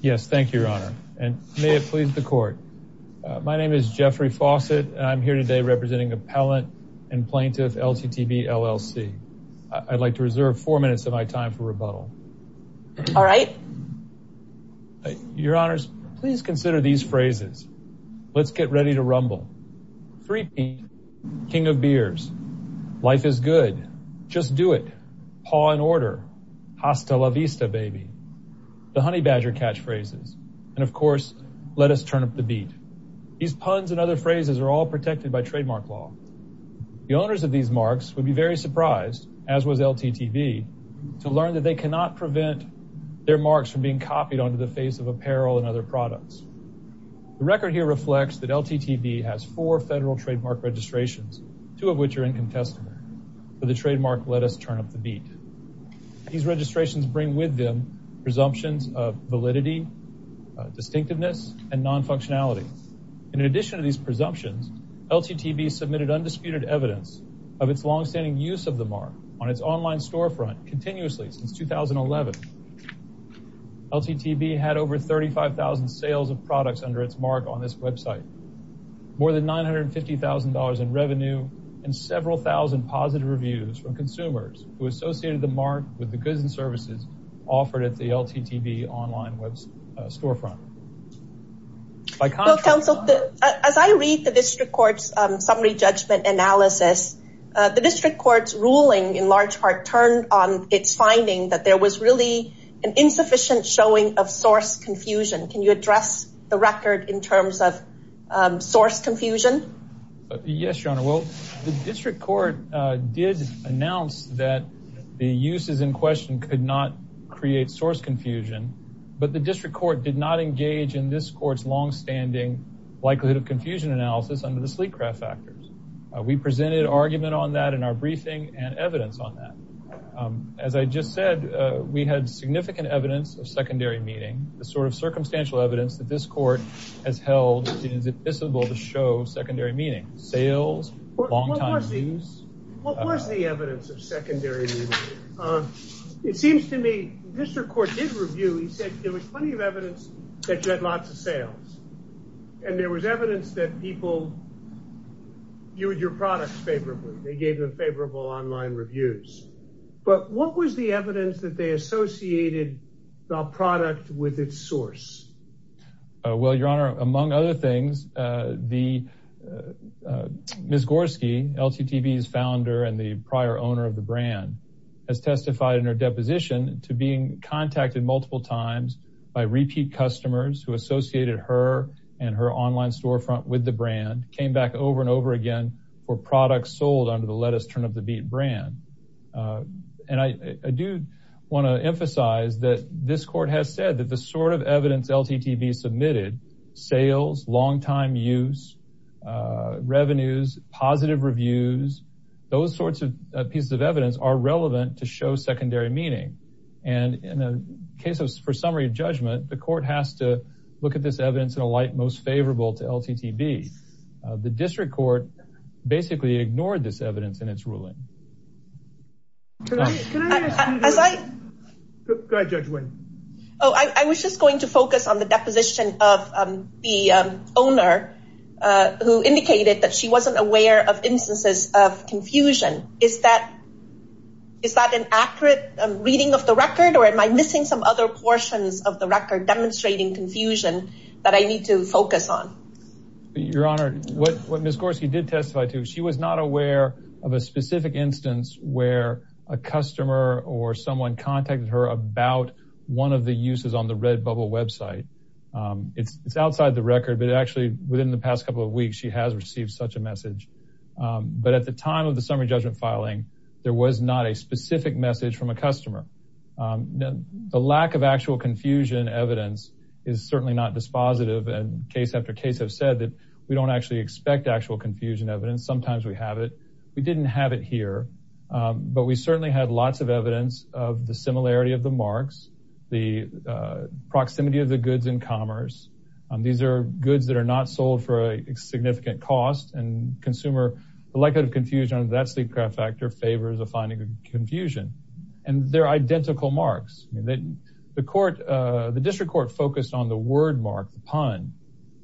Yes, thank you, Your Honor, and may it please the court. My name is Jeffrey Fawcett and I'm here today representing Appellant and Plaintiff LTTB LLC. I'd like to reserve four minutes of my time for rebuttal. All right. Your Honors, please consider these phrases. Let's get ready to rumble. Three people. King of beers. Life is good. Just do it. Paw in order. Hasta la vista, baby. The honey badger catchphrases. And of course, let us turn up the beat. These puns and other phrases are all protected by trademark law. The owners of these marks would be very surprised, as was LTTB, to learn that they cannot prevent their marks from being copied onto the face of apparel and other products. The record here reflects that LTTB has four federal trademark registrations, two of which are incontestable. But the trademark let us turn up the beat. These registrations bring with them presumptions of validity, distinctiveness, and non-functionality. In addition to these presumptions, LTTB submitted undisputed evidence of its long-standing use of the mark on its online storefront continuously since 2011. LTTB had over 35,000 sales of products under its mark on this website, more than $950,000 in revenue, and several thousand positive reviews from consumers who associated the mark with the goods and services offered at the LTTB online storefront. As I read the district court's summary judgment analysis, the district court's ruling in large part turned on its finding that there was really an insufficient showing of source confusion. Can you address the record in terms of source confusion? Yes, your honor. Well, the district court did announce that the uses in question could not create source confusion, but the district court did not engage in this court's long-standing likelihood of confusion analysis under the sleek craft factors. We presented argument on that in our briefing and evidence on that. As I just said, we had significant evidence of secondary meeting, sort of circumstantial evidence that this court has held it is admissible to show secondary meaning, sales, long-time use. What was the evidence of secondary meaning? It seems to me the district court did review. He said there was plenty of evidence that you had lots of sales and there was evidence that people viewed your products favorably. They gave them favorable online reviews, but what was the evidence that they associated the product with its source? Well, your honor, among other things, Ms. Gorski, LTTB's founder and the prior owner of the brand, has testified in her deposition to being contacted multiple times by repeat customers who associated her and her online storefront with the brand, came back over and over again for products sold under the let us turn up the beat brand. And I do want to emphasize that this court has said that the sort of evidence LTTB submitted, sales, long-time use, revenues, positive reviews, those sorts of pieces of evidence are relevant to show secondary meaning. And in a case for summary judgment, the court has to look at this evidence in a light most favorable to LTTB. The district court basically ignored this evidence in its ruling. Oh, I was just going to focus on the deposition of the owner who indicated that she wasn't aware of instances of confusion. Is that an accurate reading of the record or am I missing some other portions of the record demonstrating confusion that I need to focus on? Your honor, what Ms. She was not aware of a specific instance where a customer or someone contacted her about one of the uses on the red bubble website. It's outside the record, but actually within the past couple of weeks, she has received such a message. But at the time of the summary judgment filing, there was not a specific message from a customer. The lack of actual confusion evidence is certainly not dispositive and case after case have said that we don't actually expect actual confusion evidence. Sometimes we have it. We didn't have it here, but we certainly had lots of evidence of the similarity of the marks, the proximity of the goods in commerce. These are goods that are not sold for a significant cost and consumer, the likelihood of confusion under that sleep factor favors a finding of confusion. And they're identical marks. The district court focused on the word mark, the pun,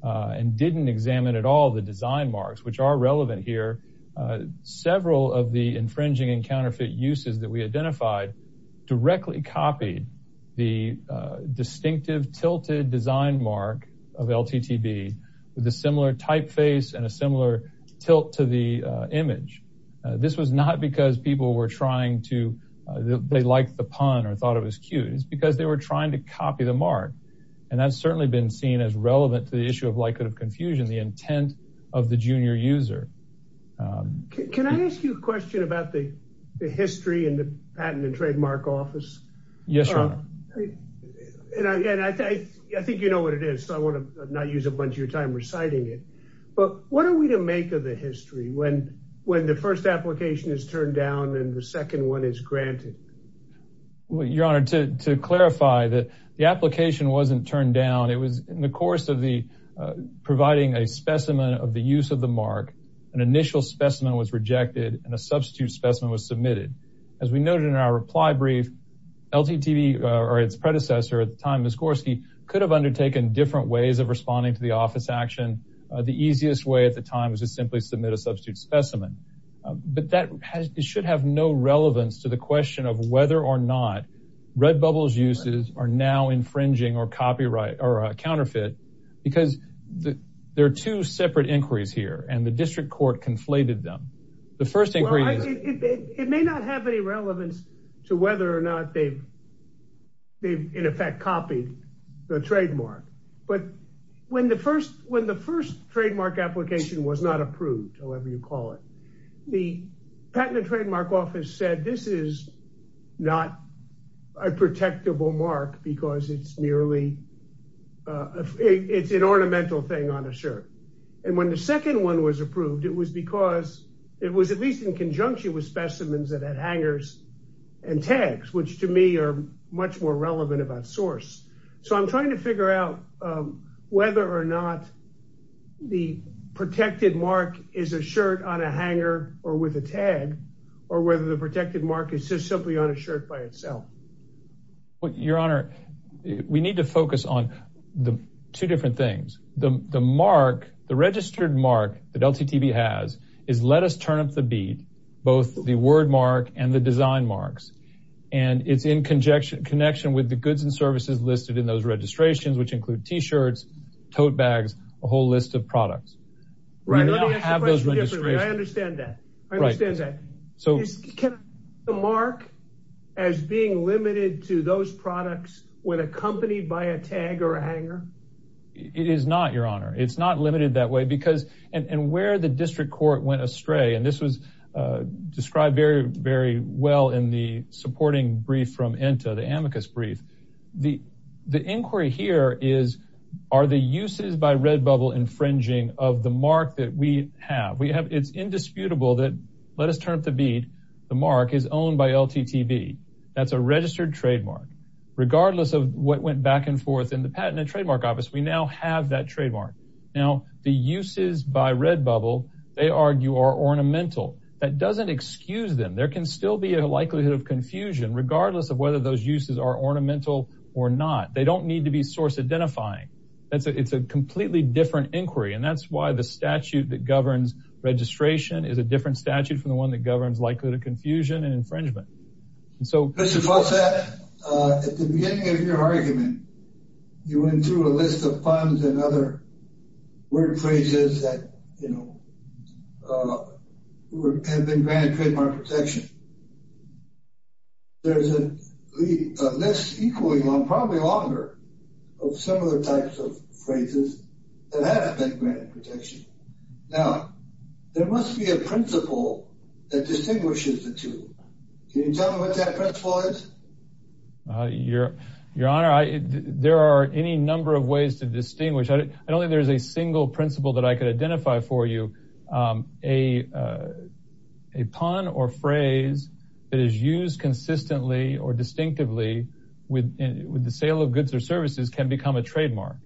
and didn't examine at all the design marks, which are relevant here. Several of the infringing and counterfeit uses that we identified directly copied the distinctive tilted design mark of LTTB with a similar typeface and a similar tilt to the image. This was not because people were trying to, they liked the pun or thought it was cute. It's because they were trying to copy the mark. And that's certainly been seen as relevant to the issue of likelihood of confusion, the intent of the junior user. Can I ask you a question about the history and the patent and trademark office? Yes. And I think you know what it is. So I want to not use a bunch of your time reciting it, but what are we to make of the history when the first application is turned down and the second one is granted? Well, your honor, to clarify that the application wasn't turned down. It was in the course of the providing a specimen of the use of the mark. An initial specimen was rejected and a substitute specimen was submitted. As we noted in our reply brief, LTTB or its predecessor at the time, Ms. Gorski, could have undertaken different ways of responding to the office action. The easiest way at the time was to simply submit a substitute specimen. But that should have no relevance to the question of whether or not Redbubble's uses are now infringing or copyright or a counterfeit. Because there are two separate inquiries here and the district court conflated them. The first inquiry. It may not have any relevance to whether or not they've in effect copied the trademark. But when the first trademark application was not approved, however you call it, the Patent and Trademark Office said this is not a protectable mark because it's merely an ornamental thing on a shirt. And when the second one was approved, it was because it was at least in conjunction with specimens that had hangers and tags, which to me are much relevant about source. So I'm trying to figure out whether or not the protected mark is a shirt on a hanger or with a tag or whether the protected mark is just simply on a shirt by itself. Your Honor, we need to focus on the two different things. The mark, the registered mark that LTTB has is let us turn up the beat, both the word mark and the design marks. And it's in connection with the goods and services listed in those registrations, which include t-shirts, tote bags, a whole list of products. Right, let me ask you a question. I understand that. I understand that. So can the mark as being limited to those products when accompanied by a tag or a hanger? It is not, Your Honor. It's not limited that way because and where the district court went astray, and this was described very, very well in the supporting brief from ENTA, the amicus brief. The inquiry here is, are the uses by Redbubble infringing of the mark that we have? We have, it's indisputable that, let us turn up the beat, the mark is owned by LTTB. That's a registered mark. We have that trademark. Now, the uses by Redbubble, they argue, are ornamental. That doesn't excuse them. There can still be a likelihood of confusion, regardless of whether those uses are ornamental or not. They don't need to be source identifying. It's a completely different inquiry, and that's why the statute that governs registration is a different statute from the one that governs likelihood of confusion and infringement. Mr. Fossett, at the beginning of your argument, you went through a list of funds and other word phrases that, you know, have been granted trademark protection. There's a list, equally long, probably longer, of similar types of phrases that haven't been granted protection. Now, there must be a principle that distinguishes the two. Can you tell me what that principle is? Your Honor, there are any number of ways to distinguish. I don't think there's a single principle that I could identify for you. A pun or phrase that is used consistently or distinctively with the sale of goods or services can become a trademark.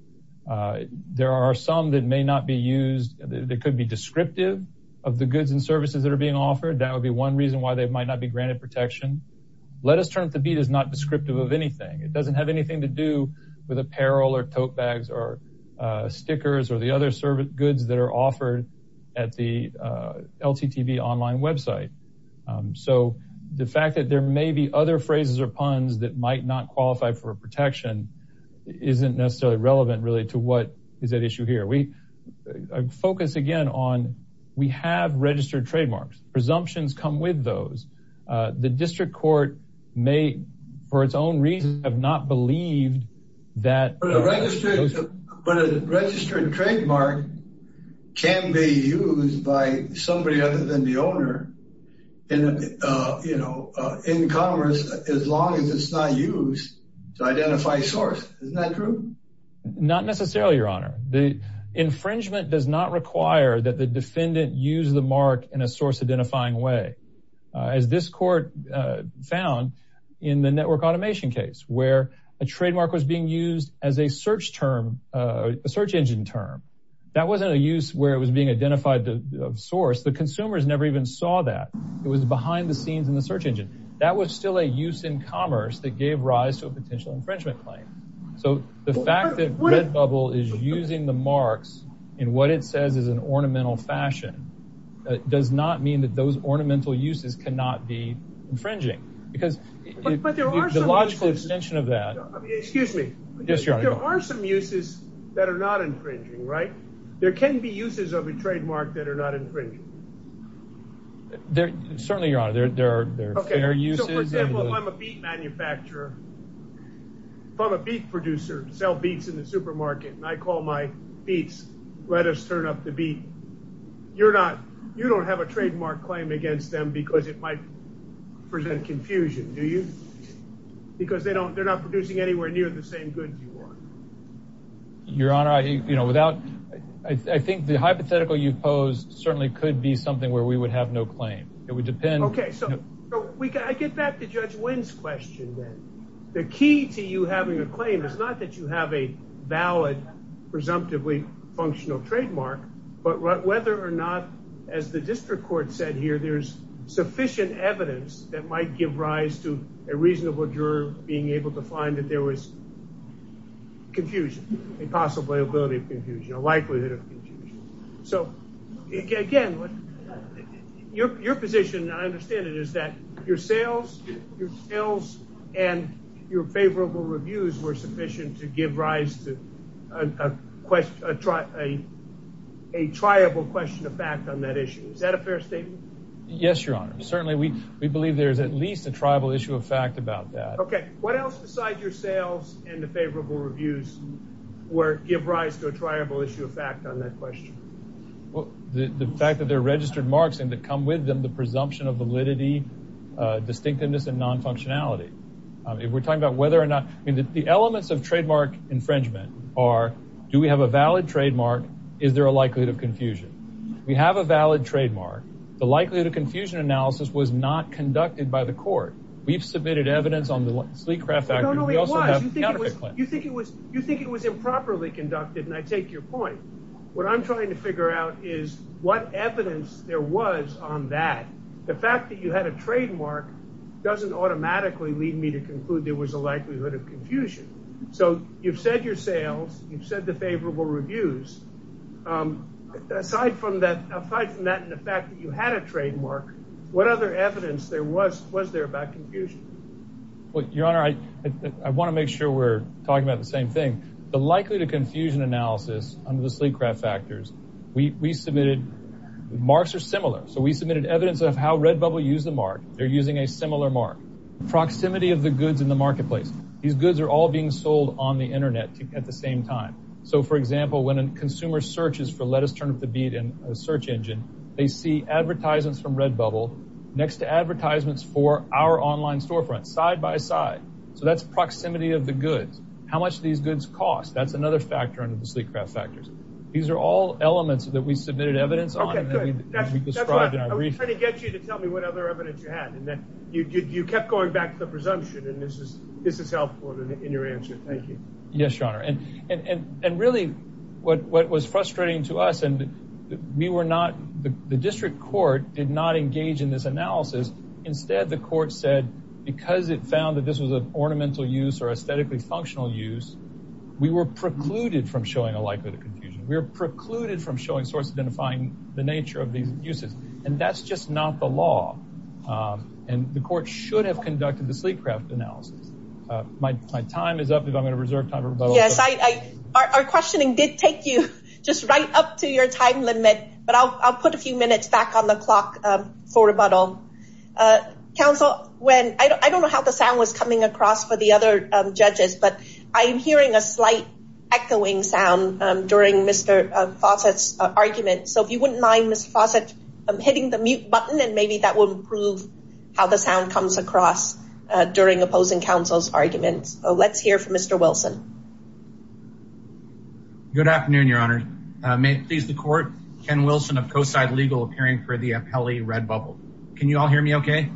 There are some that may not be used, that could be descriptive of the goods and services that are being offered. That would be one reason why they might not be granted protection. Let Us Turn Up the Beat is not descriptive of anything. It doesn't have anything to do with apparel or tote bags or stickers or the other goods that are offered at the LTTB online website. So, the fact that there may be other phrases or puns that might not qualify for protection isn't necessarily relevant to what is at issue here. We focus, again, on we have registered trademarks. Presumptions come with those. The district court may, for its own reason, have not believed that... But a registered trademark can be used by somebody other than the owner in commerce as long as it's not used to identify source. Isn't that true? Not necessarily, Your Honor. The infringement does not require that the defendant use the mark in a source-identifying way. As this court found in the network automation case where a trademark was being used as a search term, a search engine term, that wasn't a use where it was being identified of source. The consumers never even saw that. It was behind the scenes in the search engine. That was still a use in commerce that gave rise to a potential infringement claim. So, the fact that Redbubble is using the marks in what it says is an ornamental fashion does not mean that those ornamental uses cannot be infringing. Because the logical extension of that... Excuse me. Yes, Your Honor. There are some uses that are not infringing, right? There can be uses of a trademark that are not infringing. Certainly, Your Honor. There are fair uses. For example, if I'm a beet manufacturer, if I'm a beet producer, sell beets in the supermarket, and I call my beets, let us turn up the beet, you don't have a trademark claim against them because it might present confusion, do you? Because they're not producing anywhere near the same goods you are. Your Honor, I think the hypothetical you pose certainly could be where we would have no claim. It would depend... Okay, so I get back to Judge Wynn's question then. The key to you having a claim is not that you have a valid, presumptively functional trademark, but whether or not, as the district court said here, there's sufficient evidence that might give rise to a reasonable juror being able to find that there was confusion, a possibility of confusion, a likelihood of confusion. So, again, your position, and I understand it, is that your sales and your favorable reviews were sufficient to give rise to a triable question of fact on that issue. Is that a fair statement? Yes, Your Honor. Certainly, we believe there's at least a triable issue of fact about that. Okay, what else besides your sales and the favorable reviews give rise to a triable issue of fact on that question? Well, the fact that they're registered marks and that come with them, the presumption of validity, distinctiveness, and non-functionality. If we're talking about whether or not... I mean, the elements of trademark infringement are, do we have a valid trademark, is there a likelihood of confusion? We have a valid trademark. The likelihood of confusion analysis was not conducted by the court. We've submitted evidence on the Sleecraft Act. No, no, it was. You think it was improperly conducted, and I take your point. What I'm trying to figure out is what evidence there was on that. The fact that you had a trademark doesn't automatically lead me to conclude there was a likelihood of confusion. So, you've said your sales, you've said the favorable reviews. Aside from that, the fact that you had a trademark, what other evidence was there about confusion? Well, Your Honor, I want to make sure we're talking about the same thing. The likelihood of confusion analysis under the Sleecraft factors, we submitted... Marks are similar. So, we submitted evidence of how Redbubble used the mark. They're using a similar mark. Proximity of the goods in the marketplace. These goods are all being sold on the internet at the same time. So, for example, when a consumer searches for lettuce turnip to beat in a search engine, they see advertisements from Redbubble next to advertisements for our online storefront side by side. So, that's proximity of the goods. How much these goods cost, that's another factor under the Sleecraft factors. These are all elements that we submitted evidence on. Okay, good. That's what I was trying to get you to tell me what other evidence you had, and then you kept going back to the presumption, and this is helpful in your answer. Thank you. Yes, Your Honor. And really, what was frustrating to us, and we were not... The district court did not engage in this analysis. Instead, the court said, because it found that this was an ornamental use or aesthetically functional use, we were precluded from showing a likelihood of confusion. We were precluded from showing source identifying the nature of these uses. And that's just not the law. And the court should have conducted the Sleecraft analysis. My time is up if I'm going to... Yes, our questioning did take you just right up to your time limit, but I'll put a few minutes back on the clock for rebuttal. Counsel, I don't know how the sound was coming across for the other judges, but I'm hearing a slight echoing sound during Mr. Fawcett's argument. So, if you wouldn't mind, Mr. Fawcett, I'm hitting the mute button, and maybe that will improve how the sound comes across during opposing counsel's arguments. Let's hear from Mr. Wilson. Good afternoon, Your Honor. May it please the court, Ken Wilson of CoSide Legal, appearing for the Apelli Red Bubble. Can you all hear me okay?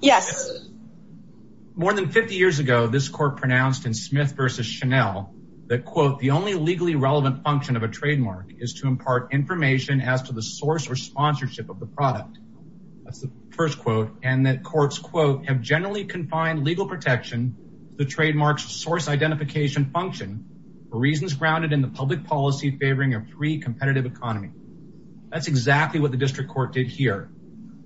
Yes. More than 50 years ago, this court pronounced in Smith v. Chanel that, quote, the only legally relevant function of a trademark is to impart information as to the source or have generally confined legal protection to the trademark's source identification function for reasons grounded in the public policy favoring a free competitive economy. That's exactly what the district court did here,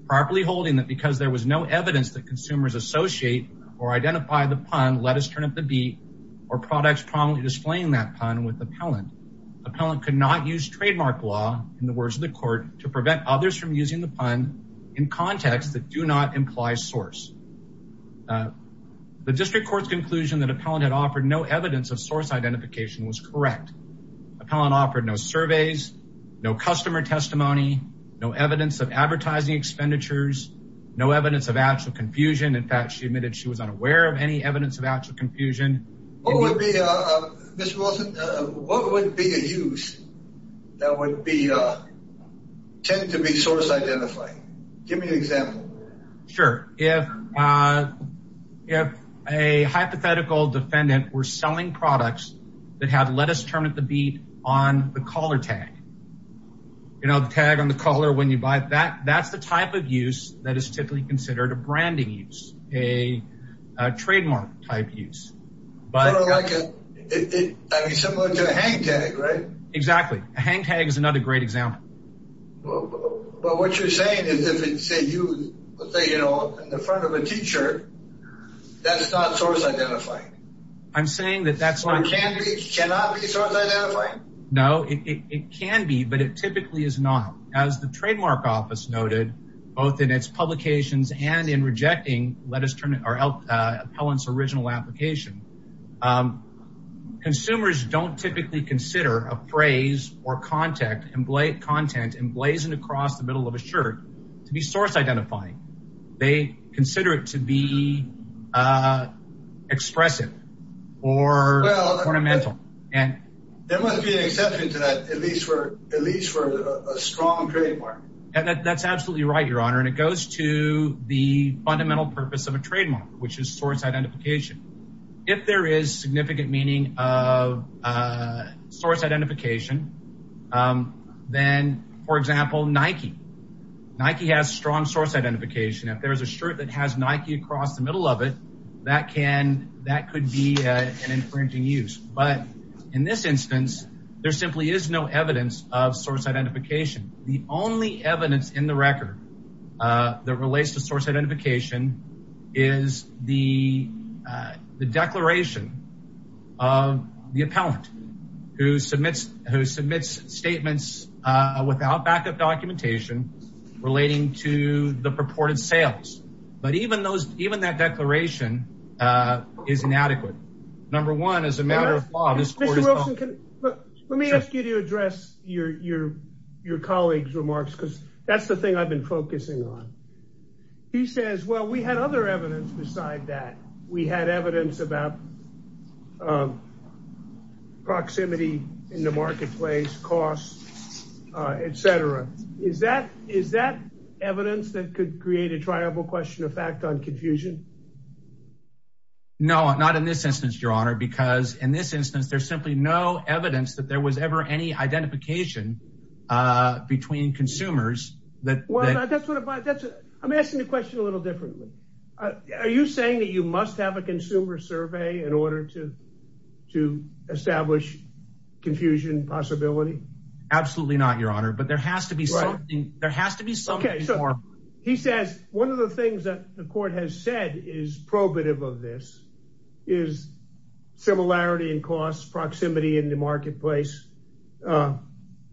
properly holding that because there was no evidence that consumers associate or identify the pun, let us turn up the beat, or products prominently displaying that pun with appellant. Appellant could not use trademark law, in the case of the district court's conclusion that appellant had offered no evidence of source identification was correct. Appellant offered no surveys, no customer testimony, no evidence of advertising expenditures, no evidence of actual confusion. In fact, she admitted she was unaware of any evidence of actual confusion. What would be, Mr. Wilson, what would be a use that would tend to be source identifying? Give me an example. Sure, if a hypothetical defendant were selling products that had let us turn up the beat on the collar tag, you know, the tag on the collar when you buy it, that's the type of use that is typically considered a branding use, a trademark type use. I mean, similar to a hang tag, right? Exactly. A hang tag is another great example. But what you're saying is if it's a use, say, you know, in the front of a teacher, that's not source identifying. I'm saying that that's not. It cannot be source identifying? No, it can be, but it typically is not. As the trademark office noted, both in its publications and in rejecting Appellant's original application, consumers don't typically consider a phrase or content emblazoned across the middle of a shirt to be source identifying. They consider it to be expressive or ornamental. There must be an exception to that, at least for a strong trademark. That's absolutely right, Your Honor, and it goes to the fundamental purpose of a trademark, which is source identification. If there is significant meaning of source identification, then, for example, Nike. Nike has strong source identification. If there is a shirt that has Nike across the middle of it, that could be an infringing use. But in this instance, there simply is no evidence of source identification. The only evidence in the record that relates to source identification is the declaration of the Appellant who submits statements without backup documentation relating to the purported sales. But even that declaration of source identification is inadequate. Number one, as a matter of law, this court is— Mr. Wilson, let me ask you to address your colleague's remarks because that's the thing I've been focusing on. He says, well, we had other evidence beside that. We had evidence about proximity in the marketplace, costs, etc. Is that evidence that could create a triable question of fact on confusion? No, not in this instance, Your Honor, because in this instance, there's simply no evidence that there was ever any identification between consumers. I'm asking the question a little differently. Are you saying that you must have a consumer survey in order to establish confusion possibility? Absolutely not, Your Honor, but there has to be something more. He says one of the things that the court has said is probative of this is similarity in costs, proximity in the marketplace, and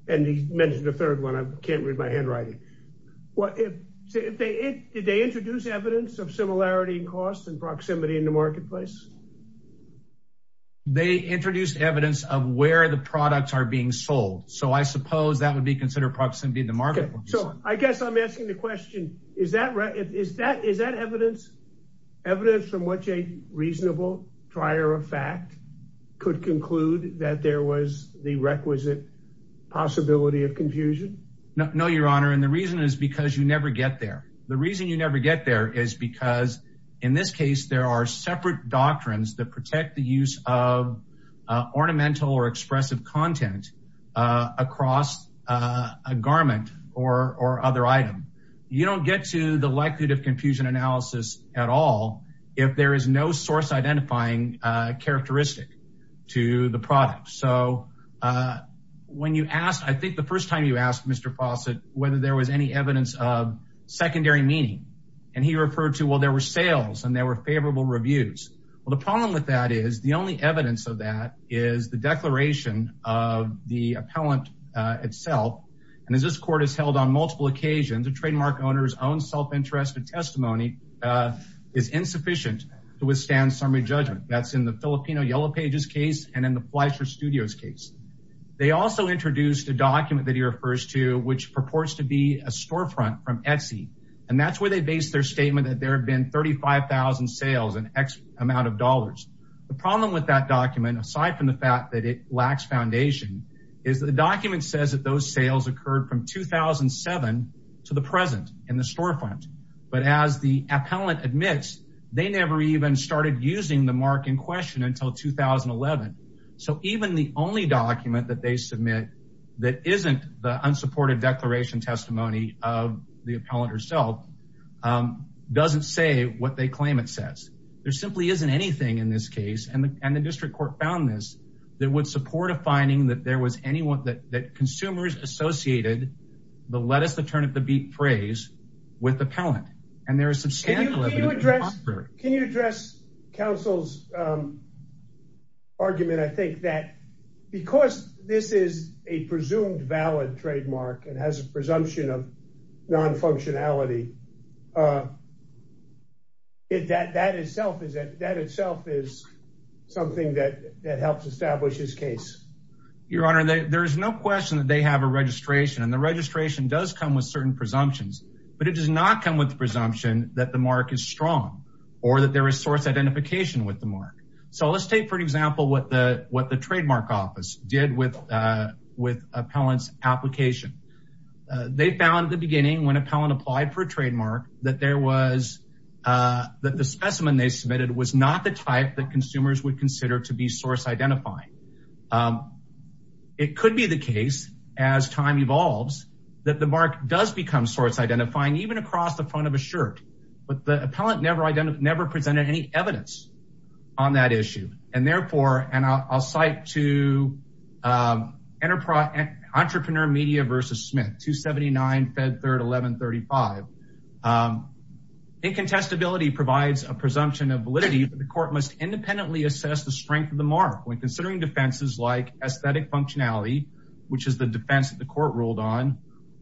he mentioned a third one. I can't read my handwriting. Did they introduce evidence of similarity in costs and proximity in the marketplace? They introduced evidence of where the products are being sold, so I suppose that would be considered proximity in the marketplace. I guess I'm asking the question, is that evidence from which a reasonable trier of fact could conclude that there was the requisite possibility of confusion? No, Your Honor, and the reason is because you never get there. The reason you never get there is because in this case, there are separate doctrines that protect the use of ornamental or expressive content across a garment or other item. You don't get to the likelihood of confusion analysis at all if there is no source identifying characteristic to the product. I think the first time you asked, Mr. Fawcett, whether there was any evidence of secondary meaning, and he referred to, well, there were sales and there were favorable reviews. Well, the problem with that is the only evidence of that is the declaration of the appellant itself, and as this court has held on multiple occasions, a trademark owner's own self-interest and testimony is insufficient to withstand summary judgment. That's in the Filipino Yellow Pages case and in the Fleischer Studios case. They also introduced a document that he refers to which purports to be a storefront from Etsy, and that's where they base their statement that there have been 35,000 sales and X amount of dollars. The problem with that document, aside from the fact that it lacks foundation, is the document says that those sales occurred from 2007 to the present in the storefront, but as the appellant admits, they never even started using the mark in question until 2011. So even the only document that they submit that isn't the unsupported declaration testimony of the appellant herself doesn't say what they claim it says. There simply isn't anything in this case, and the district court found this, that would support a finding that there was anyone that consumers associated the lettuce, the turnip, the beet praise with the argument. I think that because this is a presumed valid trademark and has a presumption of non-functionality, that itself is something that helps establish his case. Your honor, there is no question that they have a registration, and the registration does come with certain presumptions, but it does not come with the presumption that the mark is strong or that there is source identification with the mark. So let's take, for example, what the trademark office did with appellant's application. They found at the beginning, when appellant applied for a trademark, that the specimen they submitted was not the type that consumers would consider to be source identifying. It could be the case, as time evolves, that the never presented any evidence on that issue, and therefore, and I'll cite to Entrepreneur Media versus Smith, 279 Fed Third 1135. Incontestability provides a presumption of validity, but the court must independently assess the strength of the mark when considering defenses like aesthetic functionality, which is the defense that the court ruled on,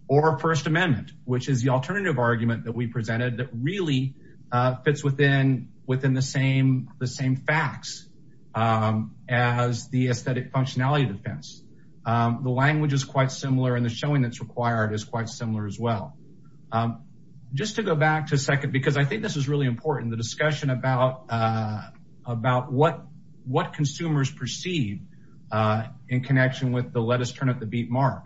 or first amendment, which is the alternative argument that we presented that fits within the same facts as the aesthetic functionality defense. The language is quite similar, and the showing that's required is quite similar as well. Just to go back to second, because I think this is really important, the discussion about what consumers perceive in connection with the let us turn up the beat mark.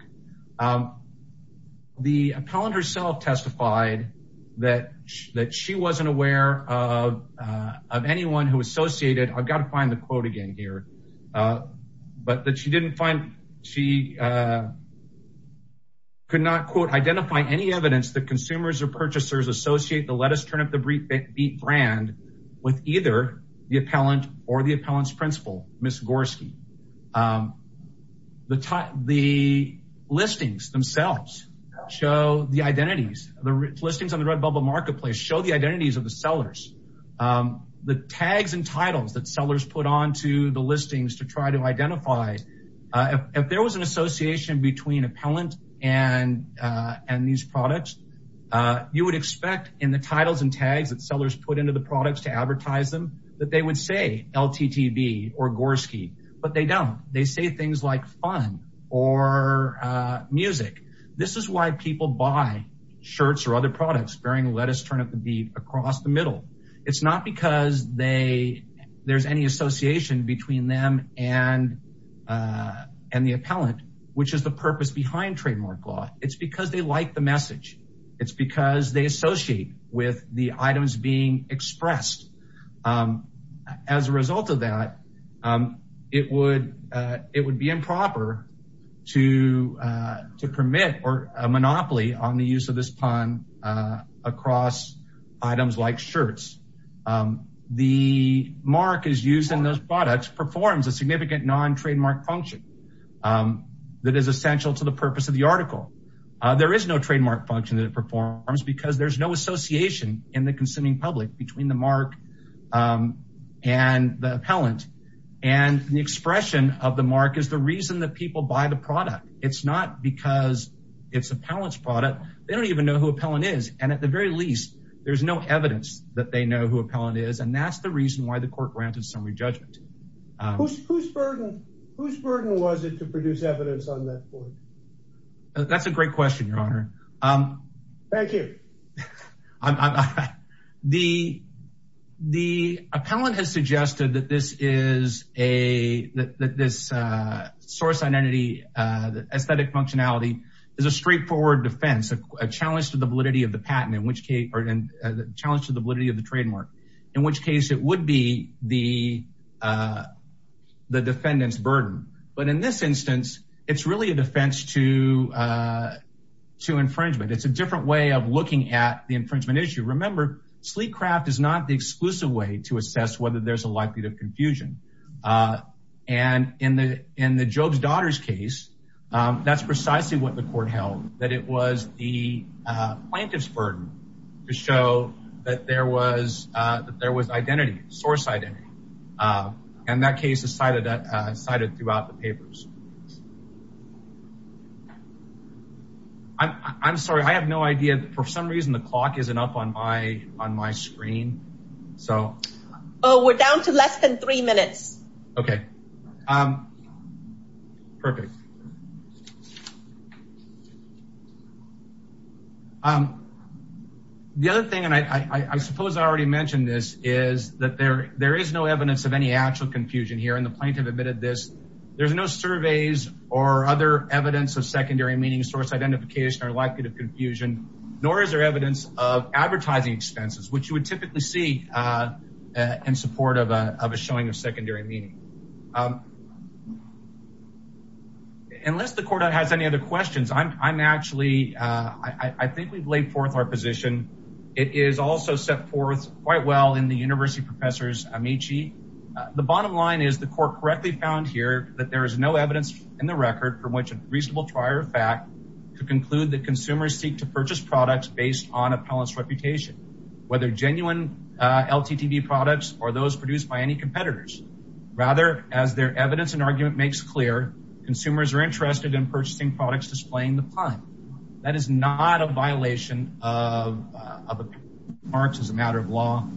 The appellant herself testified that she wasn't aware of anyone who associated, I've got to find the quote again here, but that she didn't find, she could not quote, identify any evidence that consumers or purchasers associate the let us turn up the beat brand with either the appellant or the appellant's principal, Ms. Gorski. The listings themselves show the identities, the listings on the RedBubble marketplace show the identities of the sellers. The tags and titles that sellers put on to the listings to try to identify, if there was an association between appellant and these products, you would expect in the titles and tags that sellers put into the products to advertise them that they would say LTTB or Gorski but they don't. They say things like fun or music. This is why people buy shirts or other products bearing let us turn up the beat across the middle. It's not because there's any association between them and the appellant, which is the purpose behind trademark law. It's because they like the message. It's because they associate with the items being expressed. As a result of that, it would be improper to permit or a monopoly on the use of this pun across items like shirts. The mark is used in those products performs a significant non-trademark function that is essential to the purpose of the article. There is no trademark function that it performs because there's no association in the consuming public between the mark and the appellant and the expression of the mark is the reason that people buy the product. It's not because it's appellant's product. They don't even know who appellant is and at the very least there's no evidence that they know who appellant is and that's the reason why the court granted summary judgment. Whose burden was it to produce evidence on that court? That's a great question your honor. Thank you. This source identity, the aesthetic functionality is a straightforward defense, a challenge to the validity of the patent in which case or the challenge to the validity of the trademark in which case it would be the defendant's burden. But in this instance, it's really a defense to infringement. It's a different way of looking at the infringement issue. Remember, sleek craft is not the exclusive way to assess whether there's a likelihood of infringement. And in the Job's Daughter's case, that's precisely what the court held, that it was the plaintiff's burden to show that there was identity, source identity. And that case is cited throughout the papers. I'm sorry, I have no idea. For some reason the clock isn't up on my screen. So we're down to less than three minutes. Okay, perfect. The other thing, and I suppose I already mentioned this, is that there is no evidence of any actual confusion here and the plaintiff admitted this. There's no surveys or other evidence of secondary meaning source identification or likelihood of confusion, nor is there evidence of advertising expenses, which you would typically see in support of a showing of secondary meaning. Unless the court has any other questions, I'm actually, I think we've laid forth our position. It is also set forth quite well in the University Professor's Amici. The bottom line is the court correctly found here that there is no evidence in the record from which a reasonable trier of fact could conclude that consumers seek to purchase products based on appellant's reputation, whether genuine LTTB products or those produced by any competitors. Rather, as their evidence and argument makes clear, consumers are interested in purchasing products displaying the pun. That is not a violation of the parks as a matter of law.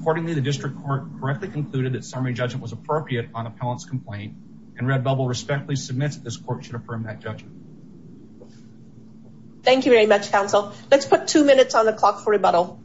Accordingly, the district court correctly concluded that summary judgment was appropriate on appellant's complaint and Redbubble respectfully submits that this court should affirm that judgment. Thank you very much, counsel. Let's put two minutes on the clock for rebuttal.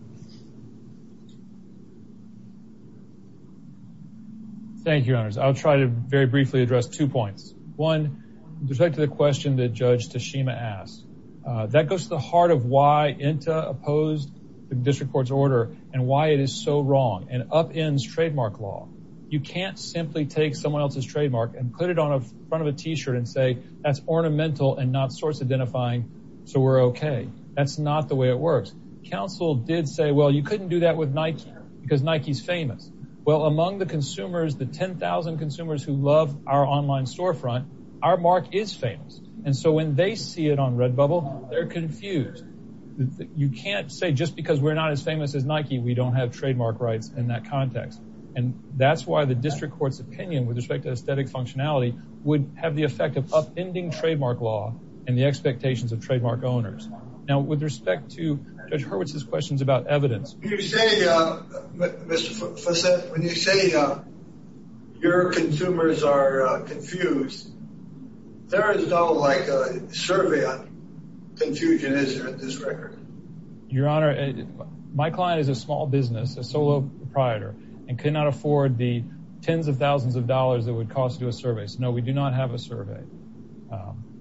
Thank you, your honors. I'll try to very briefly address two points. One, to the question that Judge Tashima asked, that goes to the heart of why INTA opposed the district court's order and why it is so wrong and upends trademark law. You can't simply take someone else's trademark and put it on a front of a t-shirt and say that's ornamental and not source identifying, so we're okay. That's not the way it works. Counsel did say, well, you couldn't do that with Nike because Nike's famous. Well, among the consumers, the 10,000 consumers who love our online storefront, our mark is famous. And so when they see it on Redbubble, they're confused. You can't say just because we're not as famous as Nike, we don't have trademark rights in that context. And that's why the district court's opinion with respect to aesthetic functionality would have the effect of upending trademark law and the expectations of trademark owners. Now, with respect to Judge Hurwitz's questions about evidence. When you say your consumers are confused, there is no survey on confusion, at this record. Your honor, my client is a small business, a solo proprietor, and cannot afford the tens of thousands of dollars it would cost to do a survey. So no, we do not have a survey.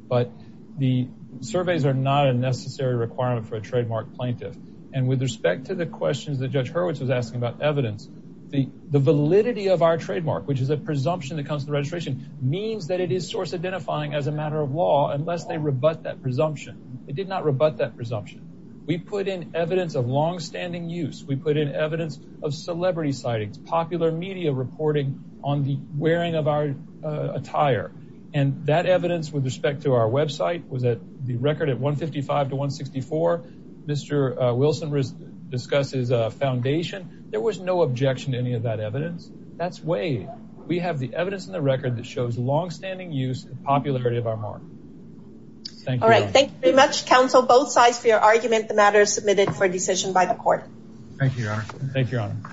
But the surveys are not a necessary requirement for a trademark plaintiff. And with respect to the questions that Judge Hurwitz was asking about evidence, the validity of our trademark, which is a presumption that comes to the registration, means that it is source identifying as a matter of law unless they rebut that presumption. It did not rebut that presumption. We put in evidence of longstanding use. We put in evidence of celebrity sightings, popular media reporting on the wearing of our attire. And that evidence with respect to our website was at the record at 155 to 164. Mr. Wilson discusses a foundation. There was no objection to any of that evidence. That's way we have the evidence in the record that shows longstanding use and popularity of our mark. Thank you. All right. Thank you very much, counsel, both sides for your argument. The matter is submitted for decision by the court. Thank you, your honor. Thank you, your honor.